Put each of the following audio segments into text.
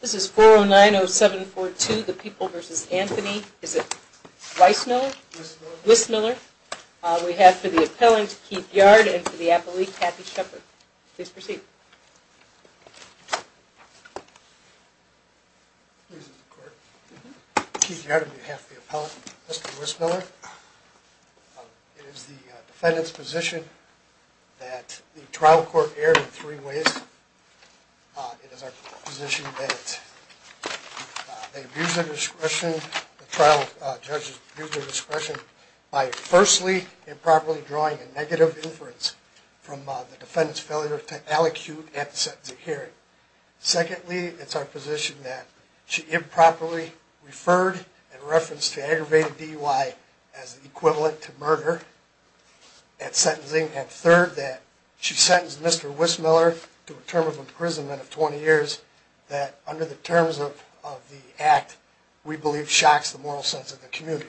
This is 4090742, The People v. Anthony. Is it Weissmiller? Wissmiller. We have for the appellant, Keith Yard, and for the appellate, Kathy Shepherd. Please proceed. Keith Yard on behalf of the appellant, Mr. Weissmiller. It is the defendant's position that the trial court erred in three ways. It is our position that they abuse their discretion, the trial judge abused their discretion by firstly improperly drawing a negative inference from the defendant's failure to allocute the error. Secondly, it's our position that she improperly referred in reference to aggravated DUI as equivalent to murder at sentencing. And third, that she sentenced Mr. Weissmiller to a term of imprisonment of 20 years that, under the terms of the act, we believe shocks the moral sense of the community.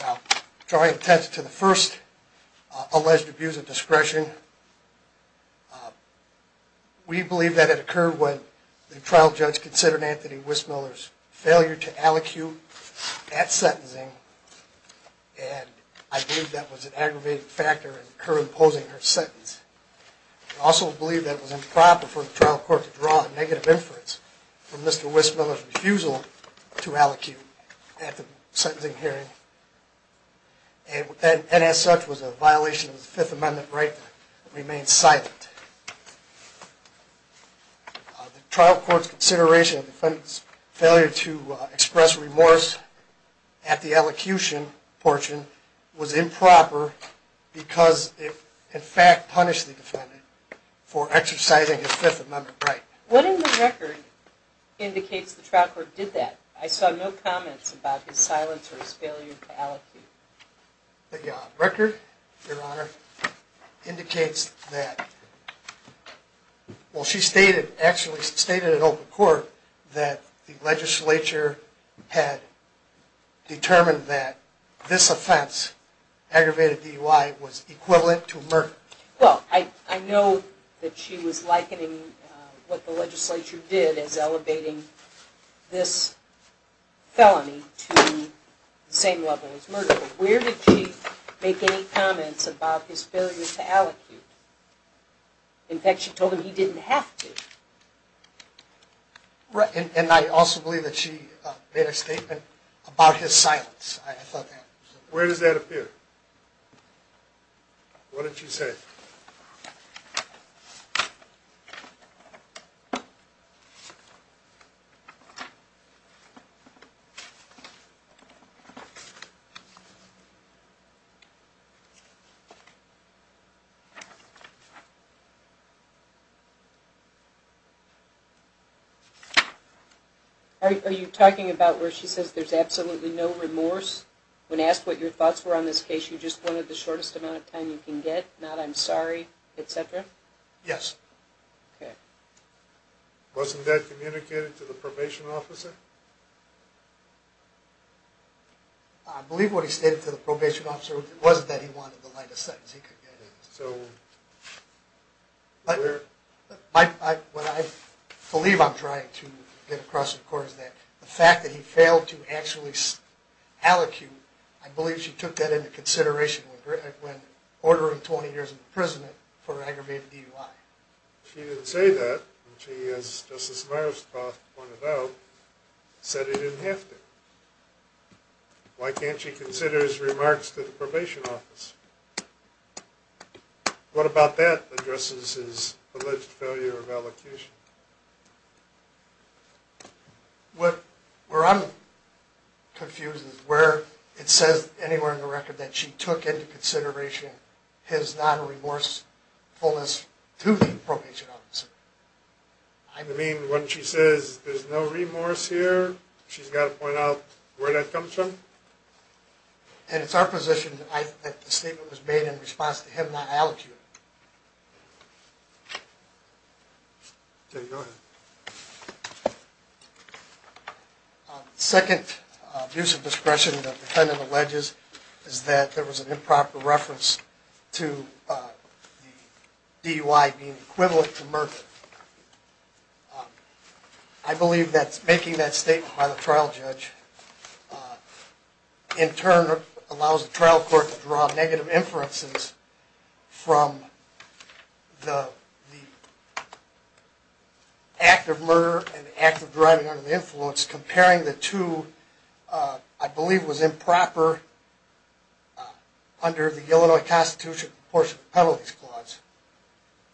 Now, drawing attention to the first alleged abuse of discretion, we believe that it occurred when the trial judge considered Anthony Weissmiller's failure to allocute at sentencing, and I believe that was an aggravated factor in her imposing her sentence. We also believe that it was improper for the trial court to draw a negative inference from Mr. Weissmiller's refusal to allocute at the sentencing hearing, and as such was a violation of the Fifth Amendment right to remain silent. The trial court's consideration of the defendant's failure to express remorse at the allocution portion was improper because it, in fact, punished the defendant for exercising his Fifth Amendment right. What in the record indicates the trial court did that? I saw no comments about his silence or his failure to allocate. The record, Your Honor, indicates that, well, she stated, actually stated in open court, that the legislature had determined that this offense, aggravated DUI, was equivalent to murder. Well, I know that she was likening what the legislature did as elevating this felony to the same level as murder, but where did she make any comments about his failure to allocate? In fact, she told him he didn't have to. And I also believe that she made a statement about his silence. Where does that appear? What did she say? Are you talking about where she says there's absolutely no remorse? When asked what your thoughts were on this case, you just wanted the shortest amount of time you can get, not, I'm sorry, etc.? Yes. Okay. Wasn't that communicated to the probation officer? I believe what he stated to the probation officer was that he wanted the lightest sentence he could get. What I believe I'm trying to get across, of course, is that the fact that he failed to actually allocate, I believe she took that into consideration when ordering 20 years in prison for aggravated DUI. She didn't say that. She, as Justice Meyerspoth pointed out, said he didn't have to. Why can't she consider his remarks to the probation officer? What about that addresses his alleged failure of allocation? What I'm confused is where it says anywhere in the record that she took into consideration his non-remorsefulness to the probation officer. You mean when she says there's no remorse here, she's got to point out where that comes from? And it's our position that the statement was made in response to him not allocating. Okay, go ahead. The second abuse of discretion that the defendant alleges is that there was an improper reference to the DUI being equivalent to murder. I believe that making that statement by the trial judge in turn allows the trial court to draw negative inferences from the act of murder and the act of driving under the influence, I believe was improper under the Illinois Constitution portion of the Penalties Clause,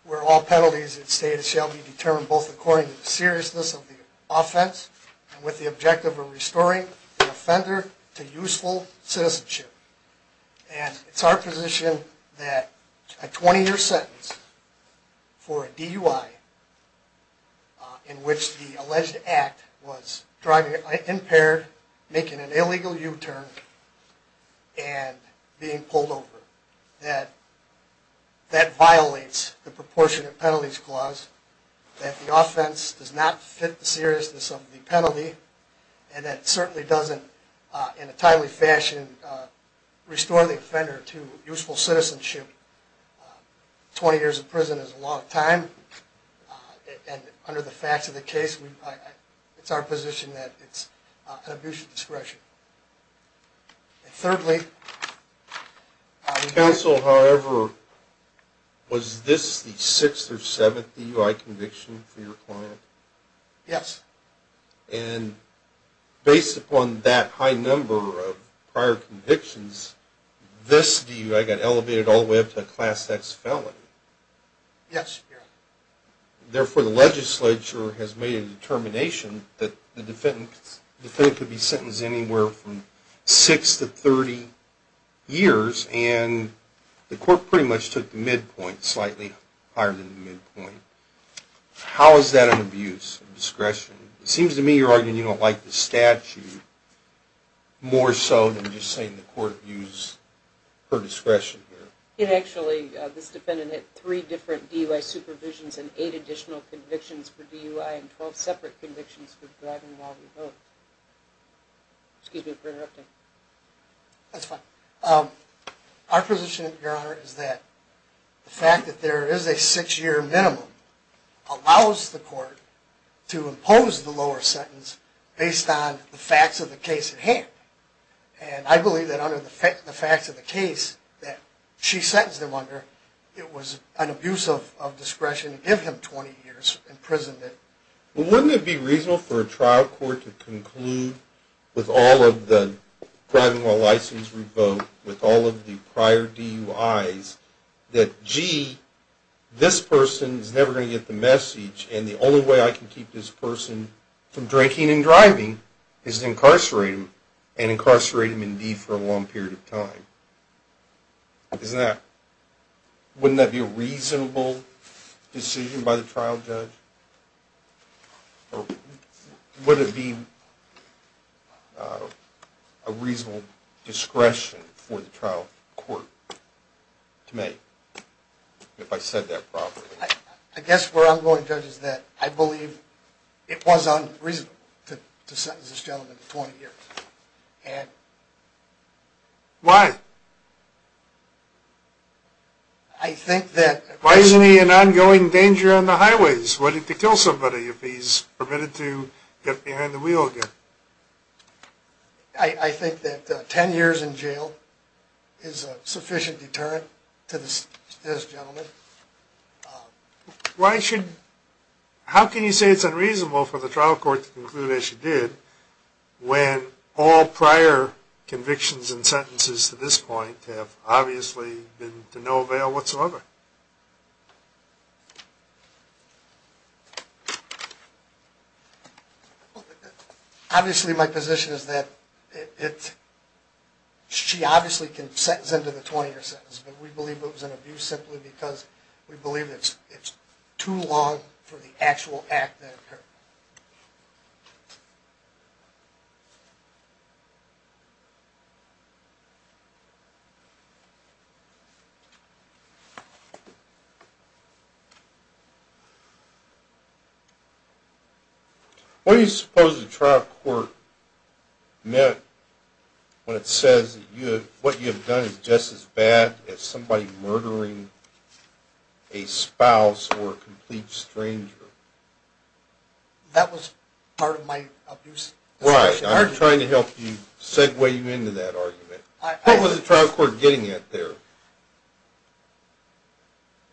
where all penalties in the state shall be determined both according to the seriousness of the offense and with the objective of restoring the offender to useful citizenship. And it's our position that a 20-year sentence for a DUI in which the alleged act was driving impaired, making an illegal U-turn, and being pulled over, that that violates the proportion of penalties clause, that the offense does not fit the seriousness of the penalty, and that it certainly doesn't, in a timely fashion, restore the offender to useful citizenship. 20 years in prison is a long time, and under the facts of the case, it's our position that it's an abuse of discretion. Thirdly... Counsel, however, was this the sixth or seventh DUI conviction for your client? Yes. And based upon that high number of prior convictions, this DUI got elevated all the way up to a Class X felony? Yes, Your Honor. Therefore, the legislature has made a determination that the defendant could be sentenced anywhere from 6 to 30 years, and the court pretty much took the midpoint, slightly higher than the midpoint. How is that an abuse of discretion? It seems to me you're arguing you don't like the statute more so than just saying the court abused her discretion here. Actually, this defendant had three different DUI supervisions and eight additional convictions for DUI and 12 separate convictions for driving while revoked. Excuse me for interrupting. That's fine. Our position, Your Honor, is that the fact that there is a six-year minimum allows the court to impose the lower sentence based on the facts of the case at hand. And I believe that under the facts of the case that she sentenced him under, it was an abuse of discretion to give him 20 years imprisonment. Well, wouldn't it be reasonable for a trial court to conclude with all of the driving while license revoked, with all of the prior DUIs, that, gee, this person is never going to get the message and the only way I can keep this person from drinking and driving is to incarcerate him and incarcerate him indeed for a long period of time? Isn't that – wouldn't that be a reasonable decision by the trial judge? Or would it be a reasonable discretion for the trial court to make if I said that properly? I guess where I'm going, Judge, is that I believe it was unreasonable to sentence this gentleman to 20 years. And... Why? I think that... Why isn't he in ongoing danger on the highways, ready to kill somebody if he's permitted to get behind the wheel again? I think that 10 years in jail is a sufficient deterrent to this gentleman. Why should – how can you say it's unreasonable for the trial court to conclude, as you did, when all prior convictions and sentences to this point have obviously been to no avail whatsoever? Obviously, my position is that it – she obviously can sentence him to the 20-year sentence, but we believe it was an abuse simply because we believe it's too long for the actual act to occur. What do you suppose the trial court meant when it says that what you have done is just as bad as somebody murdering a spouse or a complete stranger? That was part of my abuse. Right. I'm trying to help you – segue you into that argument. What was the trial court getting at there?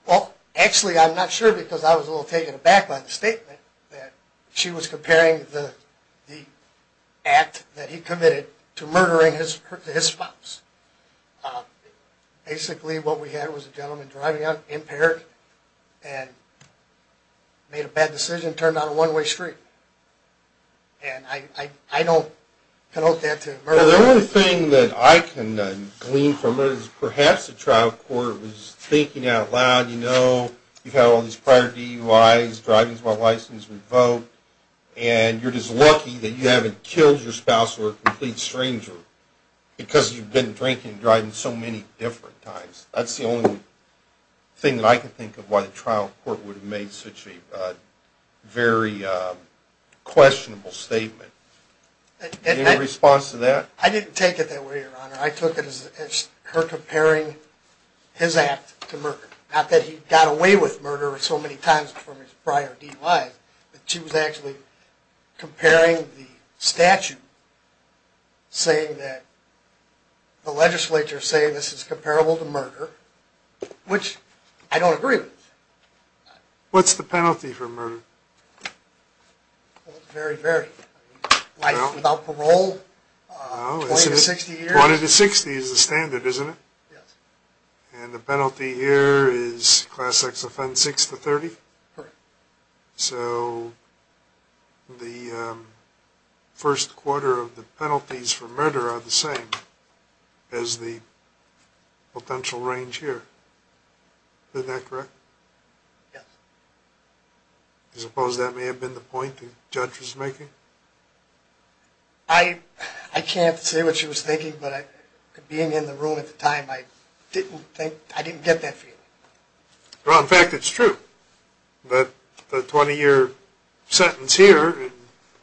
Well, actually, I'm not sure because I was a little taken aback by the statement that she was comparing the act that he committed to murdering his spouse. Basically, what we had was a gentleman driving out, impaired, and made a bad decision and turned on a one-way street. And I don't connote that to murder. Well, the only thing that I can glean from it is perhaps the trial court was thinking out loud, you know, you've had all these prior DUIs, driving without a license revoked, and you're just lucky that you haven't killed your spouse or a complete stranger because you've been drinking and driving so many different times. That's the only thing that I can think of why the trial court would have made such a very questionable statement. Any response to that? I didn't take it that way, Your Honor. I took it as her comparing his act to murder. Not that he got away with murder so many times from his prior DUIs, but she was actually comparing the statute saying that the legislature is saying this is comparable to murder, which I don't agree with. What's the penalty for murder? Very, very. Life without parole, 20 to 60 years. 20 to 60 is the standard, isn't it? Yes. And the penalty here is Class X offense, 6 to 30? Correct. So the first quarter of the penalties for murder are the same as the potential range here. Isn't that correct? Yes. Do you suppose that may have been the point the judge was making? I can't say what she was thinking, but being in the room at the time, I didn't get that feeling. Well, in fact, it's true that the 20-year sentence here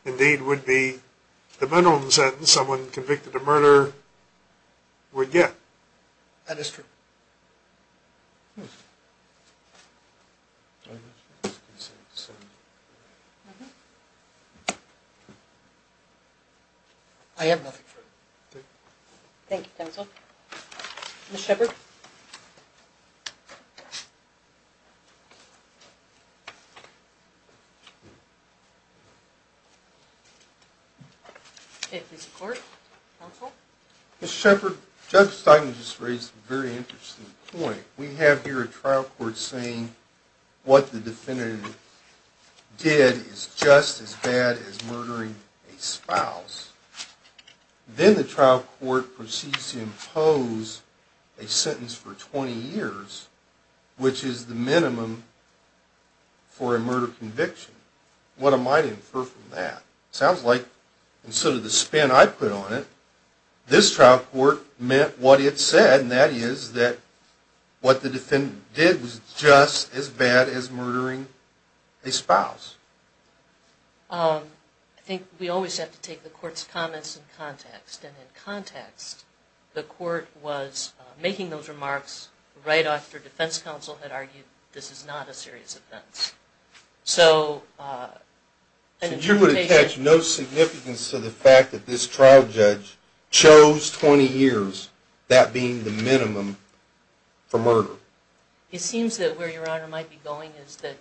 indeed would be the minimum sentence someone convicted of murder would get. That is true. Hmm. I have nothing further. Thank you. Thank you, counsel. Okay, please report, counsel. Mr. Shepherd, Judge Stein just raised a very interesting point. We have here a trial court saying what the defendant did is just as bad as murdering a spouse. Then the trial court proceeds to impose a sentence for 20 years, which is the minimum for a murder conviction. What am I to infer from that? It sounds like instead of the spin I put on it, this trial court meant what it said, and that is that what the defendant did was just as bad as murdering a spouse. I think we always have to take the court's comments in context, and in context the court was making those remarks right after defense counsel had argued this is not a serious offense. So you would attach no significance to the fact that this trial judge chose 20 years, that being the minimum, for murder? It seems that where Your Honor might be going is that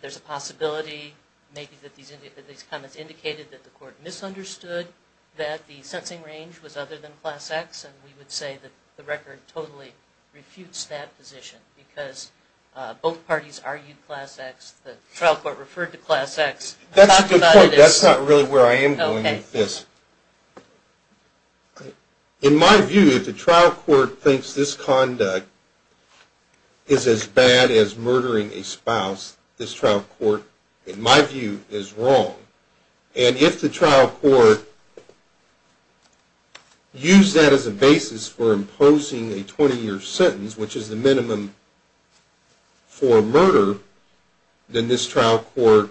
there's a possibility maybe that these comments indicated that the court misunderstood that the sentencing range was other than Class X, and we would say that the record totally refutes that position because both parties argued Class X, the trial court referred to Class X. That's a good point. That's not really where I am going with this. In my view, if the trial court thinks this conduct is as bad as murdering a spouse, this trial court, in my view, is wrong. And if the trial court used that as a basis for imposing a 20-year sentence, which is the minimum for murder, then this trial court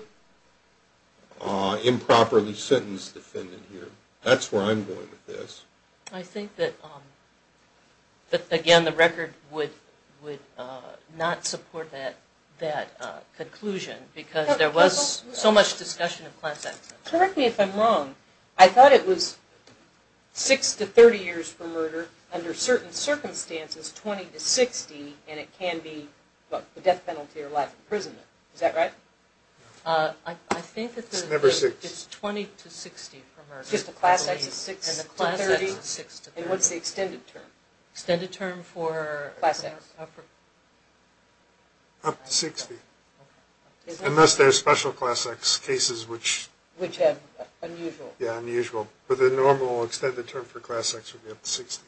improperly sentenced the defendant here. That's where I'm going with this. I think that, again, the record would not support that conclusion because there was so much discussion of Class X. Correct me if I'm wrong. I thought it was 6 to 30 years for murder, under certain circumstances 20 to 60, and it can be a death penalty or life imprisonment. Is that right? I think it's 20 to 60 for murder. Just the Class X is 6 to 30, and what's the extended term? Extended term for Class X? Up to 60. Unless there's special Class X cases which... Which have unusual... Yeah, unusual. But the normal extended term for Class X would be up to 60.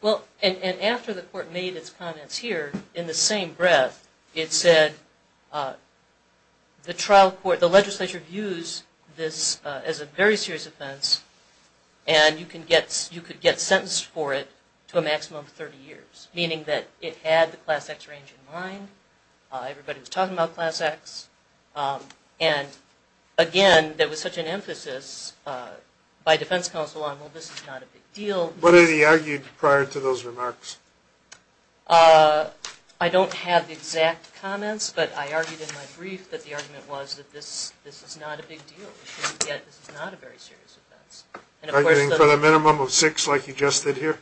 Well, and after the court made its comments here, in the same breath, it said, the trial court, the legislature views this as a very serious offense, and you could get sentenced for it to a maximum of 30 years, meaning that it had the Class X range in mind, everybody was talking about Class X, and again, there was such an emphasis by defense counsel on, well, this is not a big deal. What had he argued prior to those remarks? I don't have exact comments, but I argued in my brief that the argument was that this is not a big deal, yet this is not a very serious offense. Arguing for the minimum of 6, like you just did here?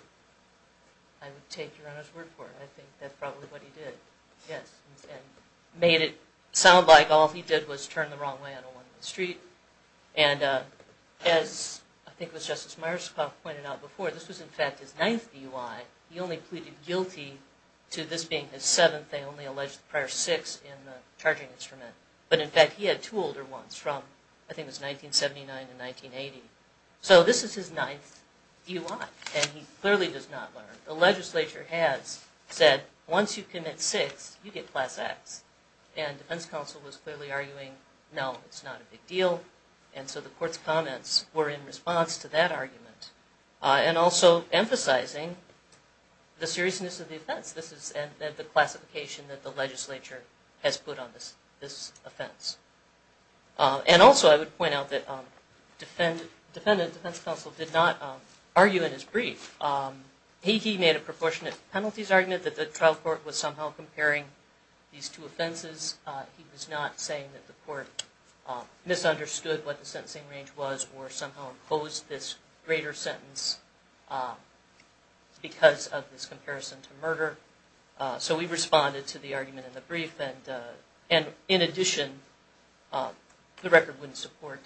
I would take your Honor's word for it. I think that's probably what he did, yes, and made it sound like all he did was turn the wrong way on a one-way street, and as I think it was Justice Myerspock pointed out before, this was in fact his ninth DUI. He only pleaded guilty to this being his seventh. They only alleged the prior six in the charging instrument, but in fact he had two older ones from, I think it was 1979 and 1980. So this is his ninth DUI, and he clearly does not learn. The legislature has said, once you commit six, you get Class X, and defense counsel was clearly arguing, no, it's not a big deal, and so the court's comments were in response to that argument, and also emphasizing the seriousness of the offense, and the classification that the legislature has put on this offense. And also I would point out that defendant defense counsel did not argue in his brief. He made a proportionate penalties argument that the trial court was somehow comparing these two offenses. He was not saying that the court misunderstood what the sentencing range was, or somehow imposed this greater sentence because of this comparison to murder. So we responded to the argument in the brief, and in addition, the record wouldn't support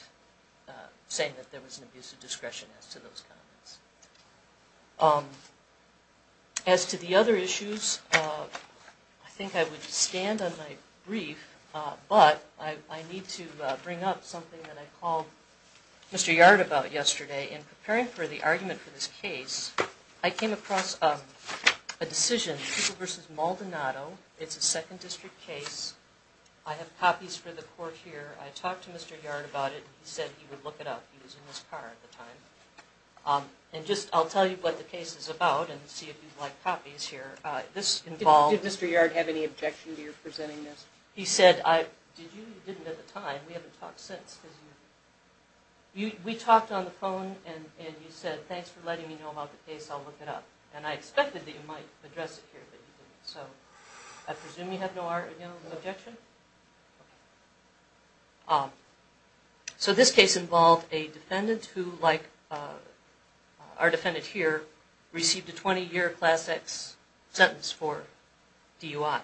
saying that there was an abuse of discretion as to those comments. As to the other issues, I think I would stand on my brief, but I need to bring up something that I called Mr. Yard about yesterday. In preparing for the argument for this case, I came across a decision, it's a second district case. I have copies for the court here. I talked to Mr. Yard about it, and he said he would look it up. He was in his car at the time. And I'll tell you what the case is about, and see if you'd like copies here. Did Mr. Yard have any objection to your presenting this? He said, did you? You didn't at the time. We haven't talked since. We talked on the phone, and you said, thanks for letting me know about the case, I'll look it up. And I expected that you might address it here, but you didn't. So I presume you have no objection? So this case involved a defendant who, like our defendant here, received a 20-year Class X sentence for DUI.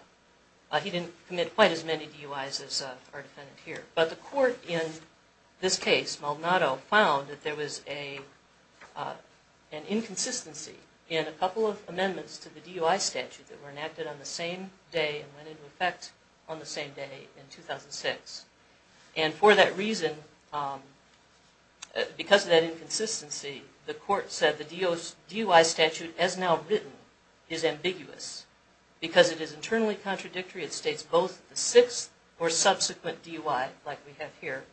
He didn't commit quite as many DUIs as our defendant here. But the court in this case, Maldonado, found that there was an inconsistency in a couple of amendments to the DUI statute that were enacted on the same day and went into effect on the same day in 2006. And for that reason, because of that inconsistency, the court said the DUI statute as now written is ambiguous. Because it is internally contradictory, it states both the sixth or subsequent DUI, like we have here,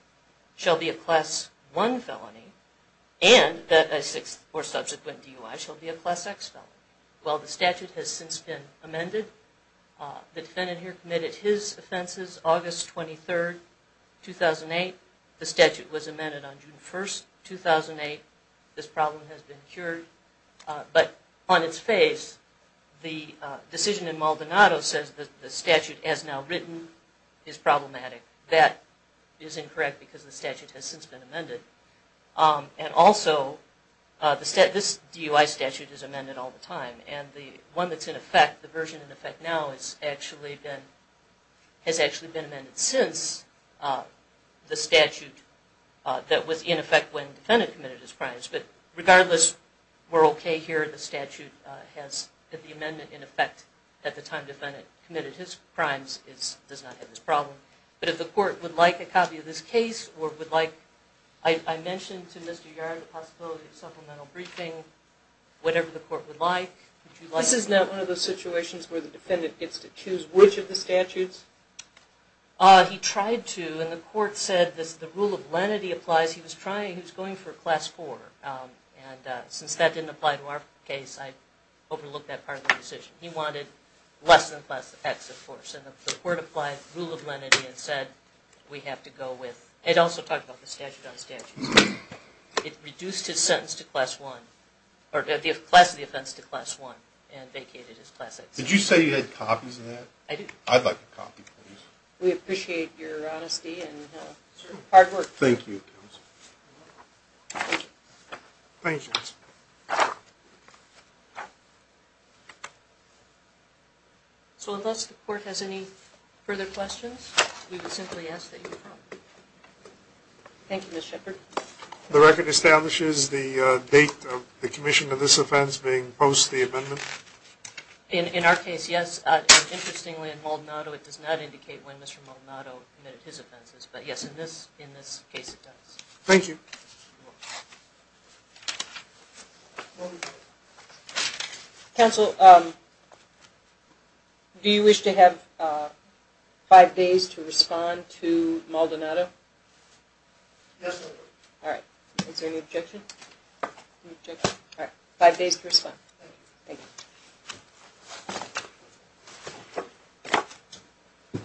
shall be a Class I felony, and that a sixth or subsequent DUI shall be a Class X felony. Well, the statute has since been amended. The defendant here committed his offenses August 23, 2008. The statute was amended on June 1, 2008. This problem has been cured. But on its face, the decision in Maldonado says that the statute as now written is problematic. That is incorrect because the statute has since been amended. And also, this DUI statute is amended all the time. And the one that's in effect, the version in effect now, has actually been amended since the statute that was in effect when the defendant committed his crimes. But regardless, we're okay here. The statute has the amendment in effect at the time the defendant committed his crimes. It does not have this problem. But if the court would like a copy of this case or would like, I mentioned to Mr. Yard the possibility of supplemental briefing, whatever the court would like. This is not one of those situations where the defendant gets to choose which of the statutes? He tried to, and the court said the rule of lenity applies. He was trying, he was going for a class 4. And since that didn't apply to our case, I overlooked that part of the decision. He wanted less than class X, of course. And the court applied rule of lenity and said we have to go with, it also talked about the statute on statutes. It reduced his sentence to class 1, or the class of the offense to class 1, and vacated his class X. Did you say you had copies of that? I do. I'd like a copy, please. We appreciate your honesty and hard work. Thank you, counsel. Thank you. So unless the court has any further questions, we would simply ask that you come. Thank you, Ms. Shepherd. The record establishes the date of the commission of this offense being post the amendment? In our case, yes. Interestingly, in Maldonado, it does not indicate when Mr. Maldonado committed his offenses. But, yes, in this case, it does. Thank you. Counsel, do you wish to have five days to respond to Maldonado? Yes, ma'am. All right. Is there any objection? All right. Five days to respond. Thank you.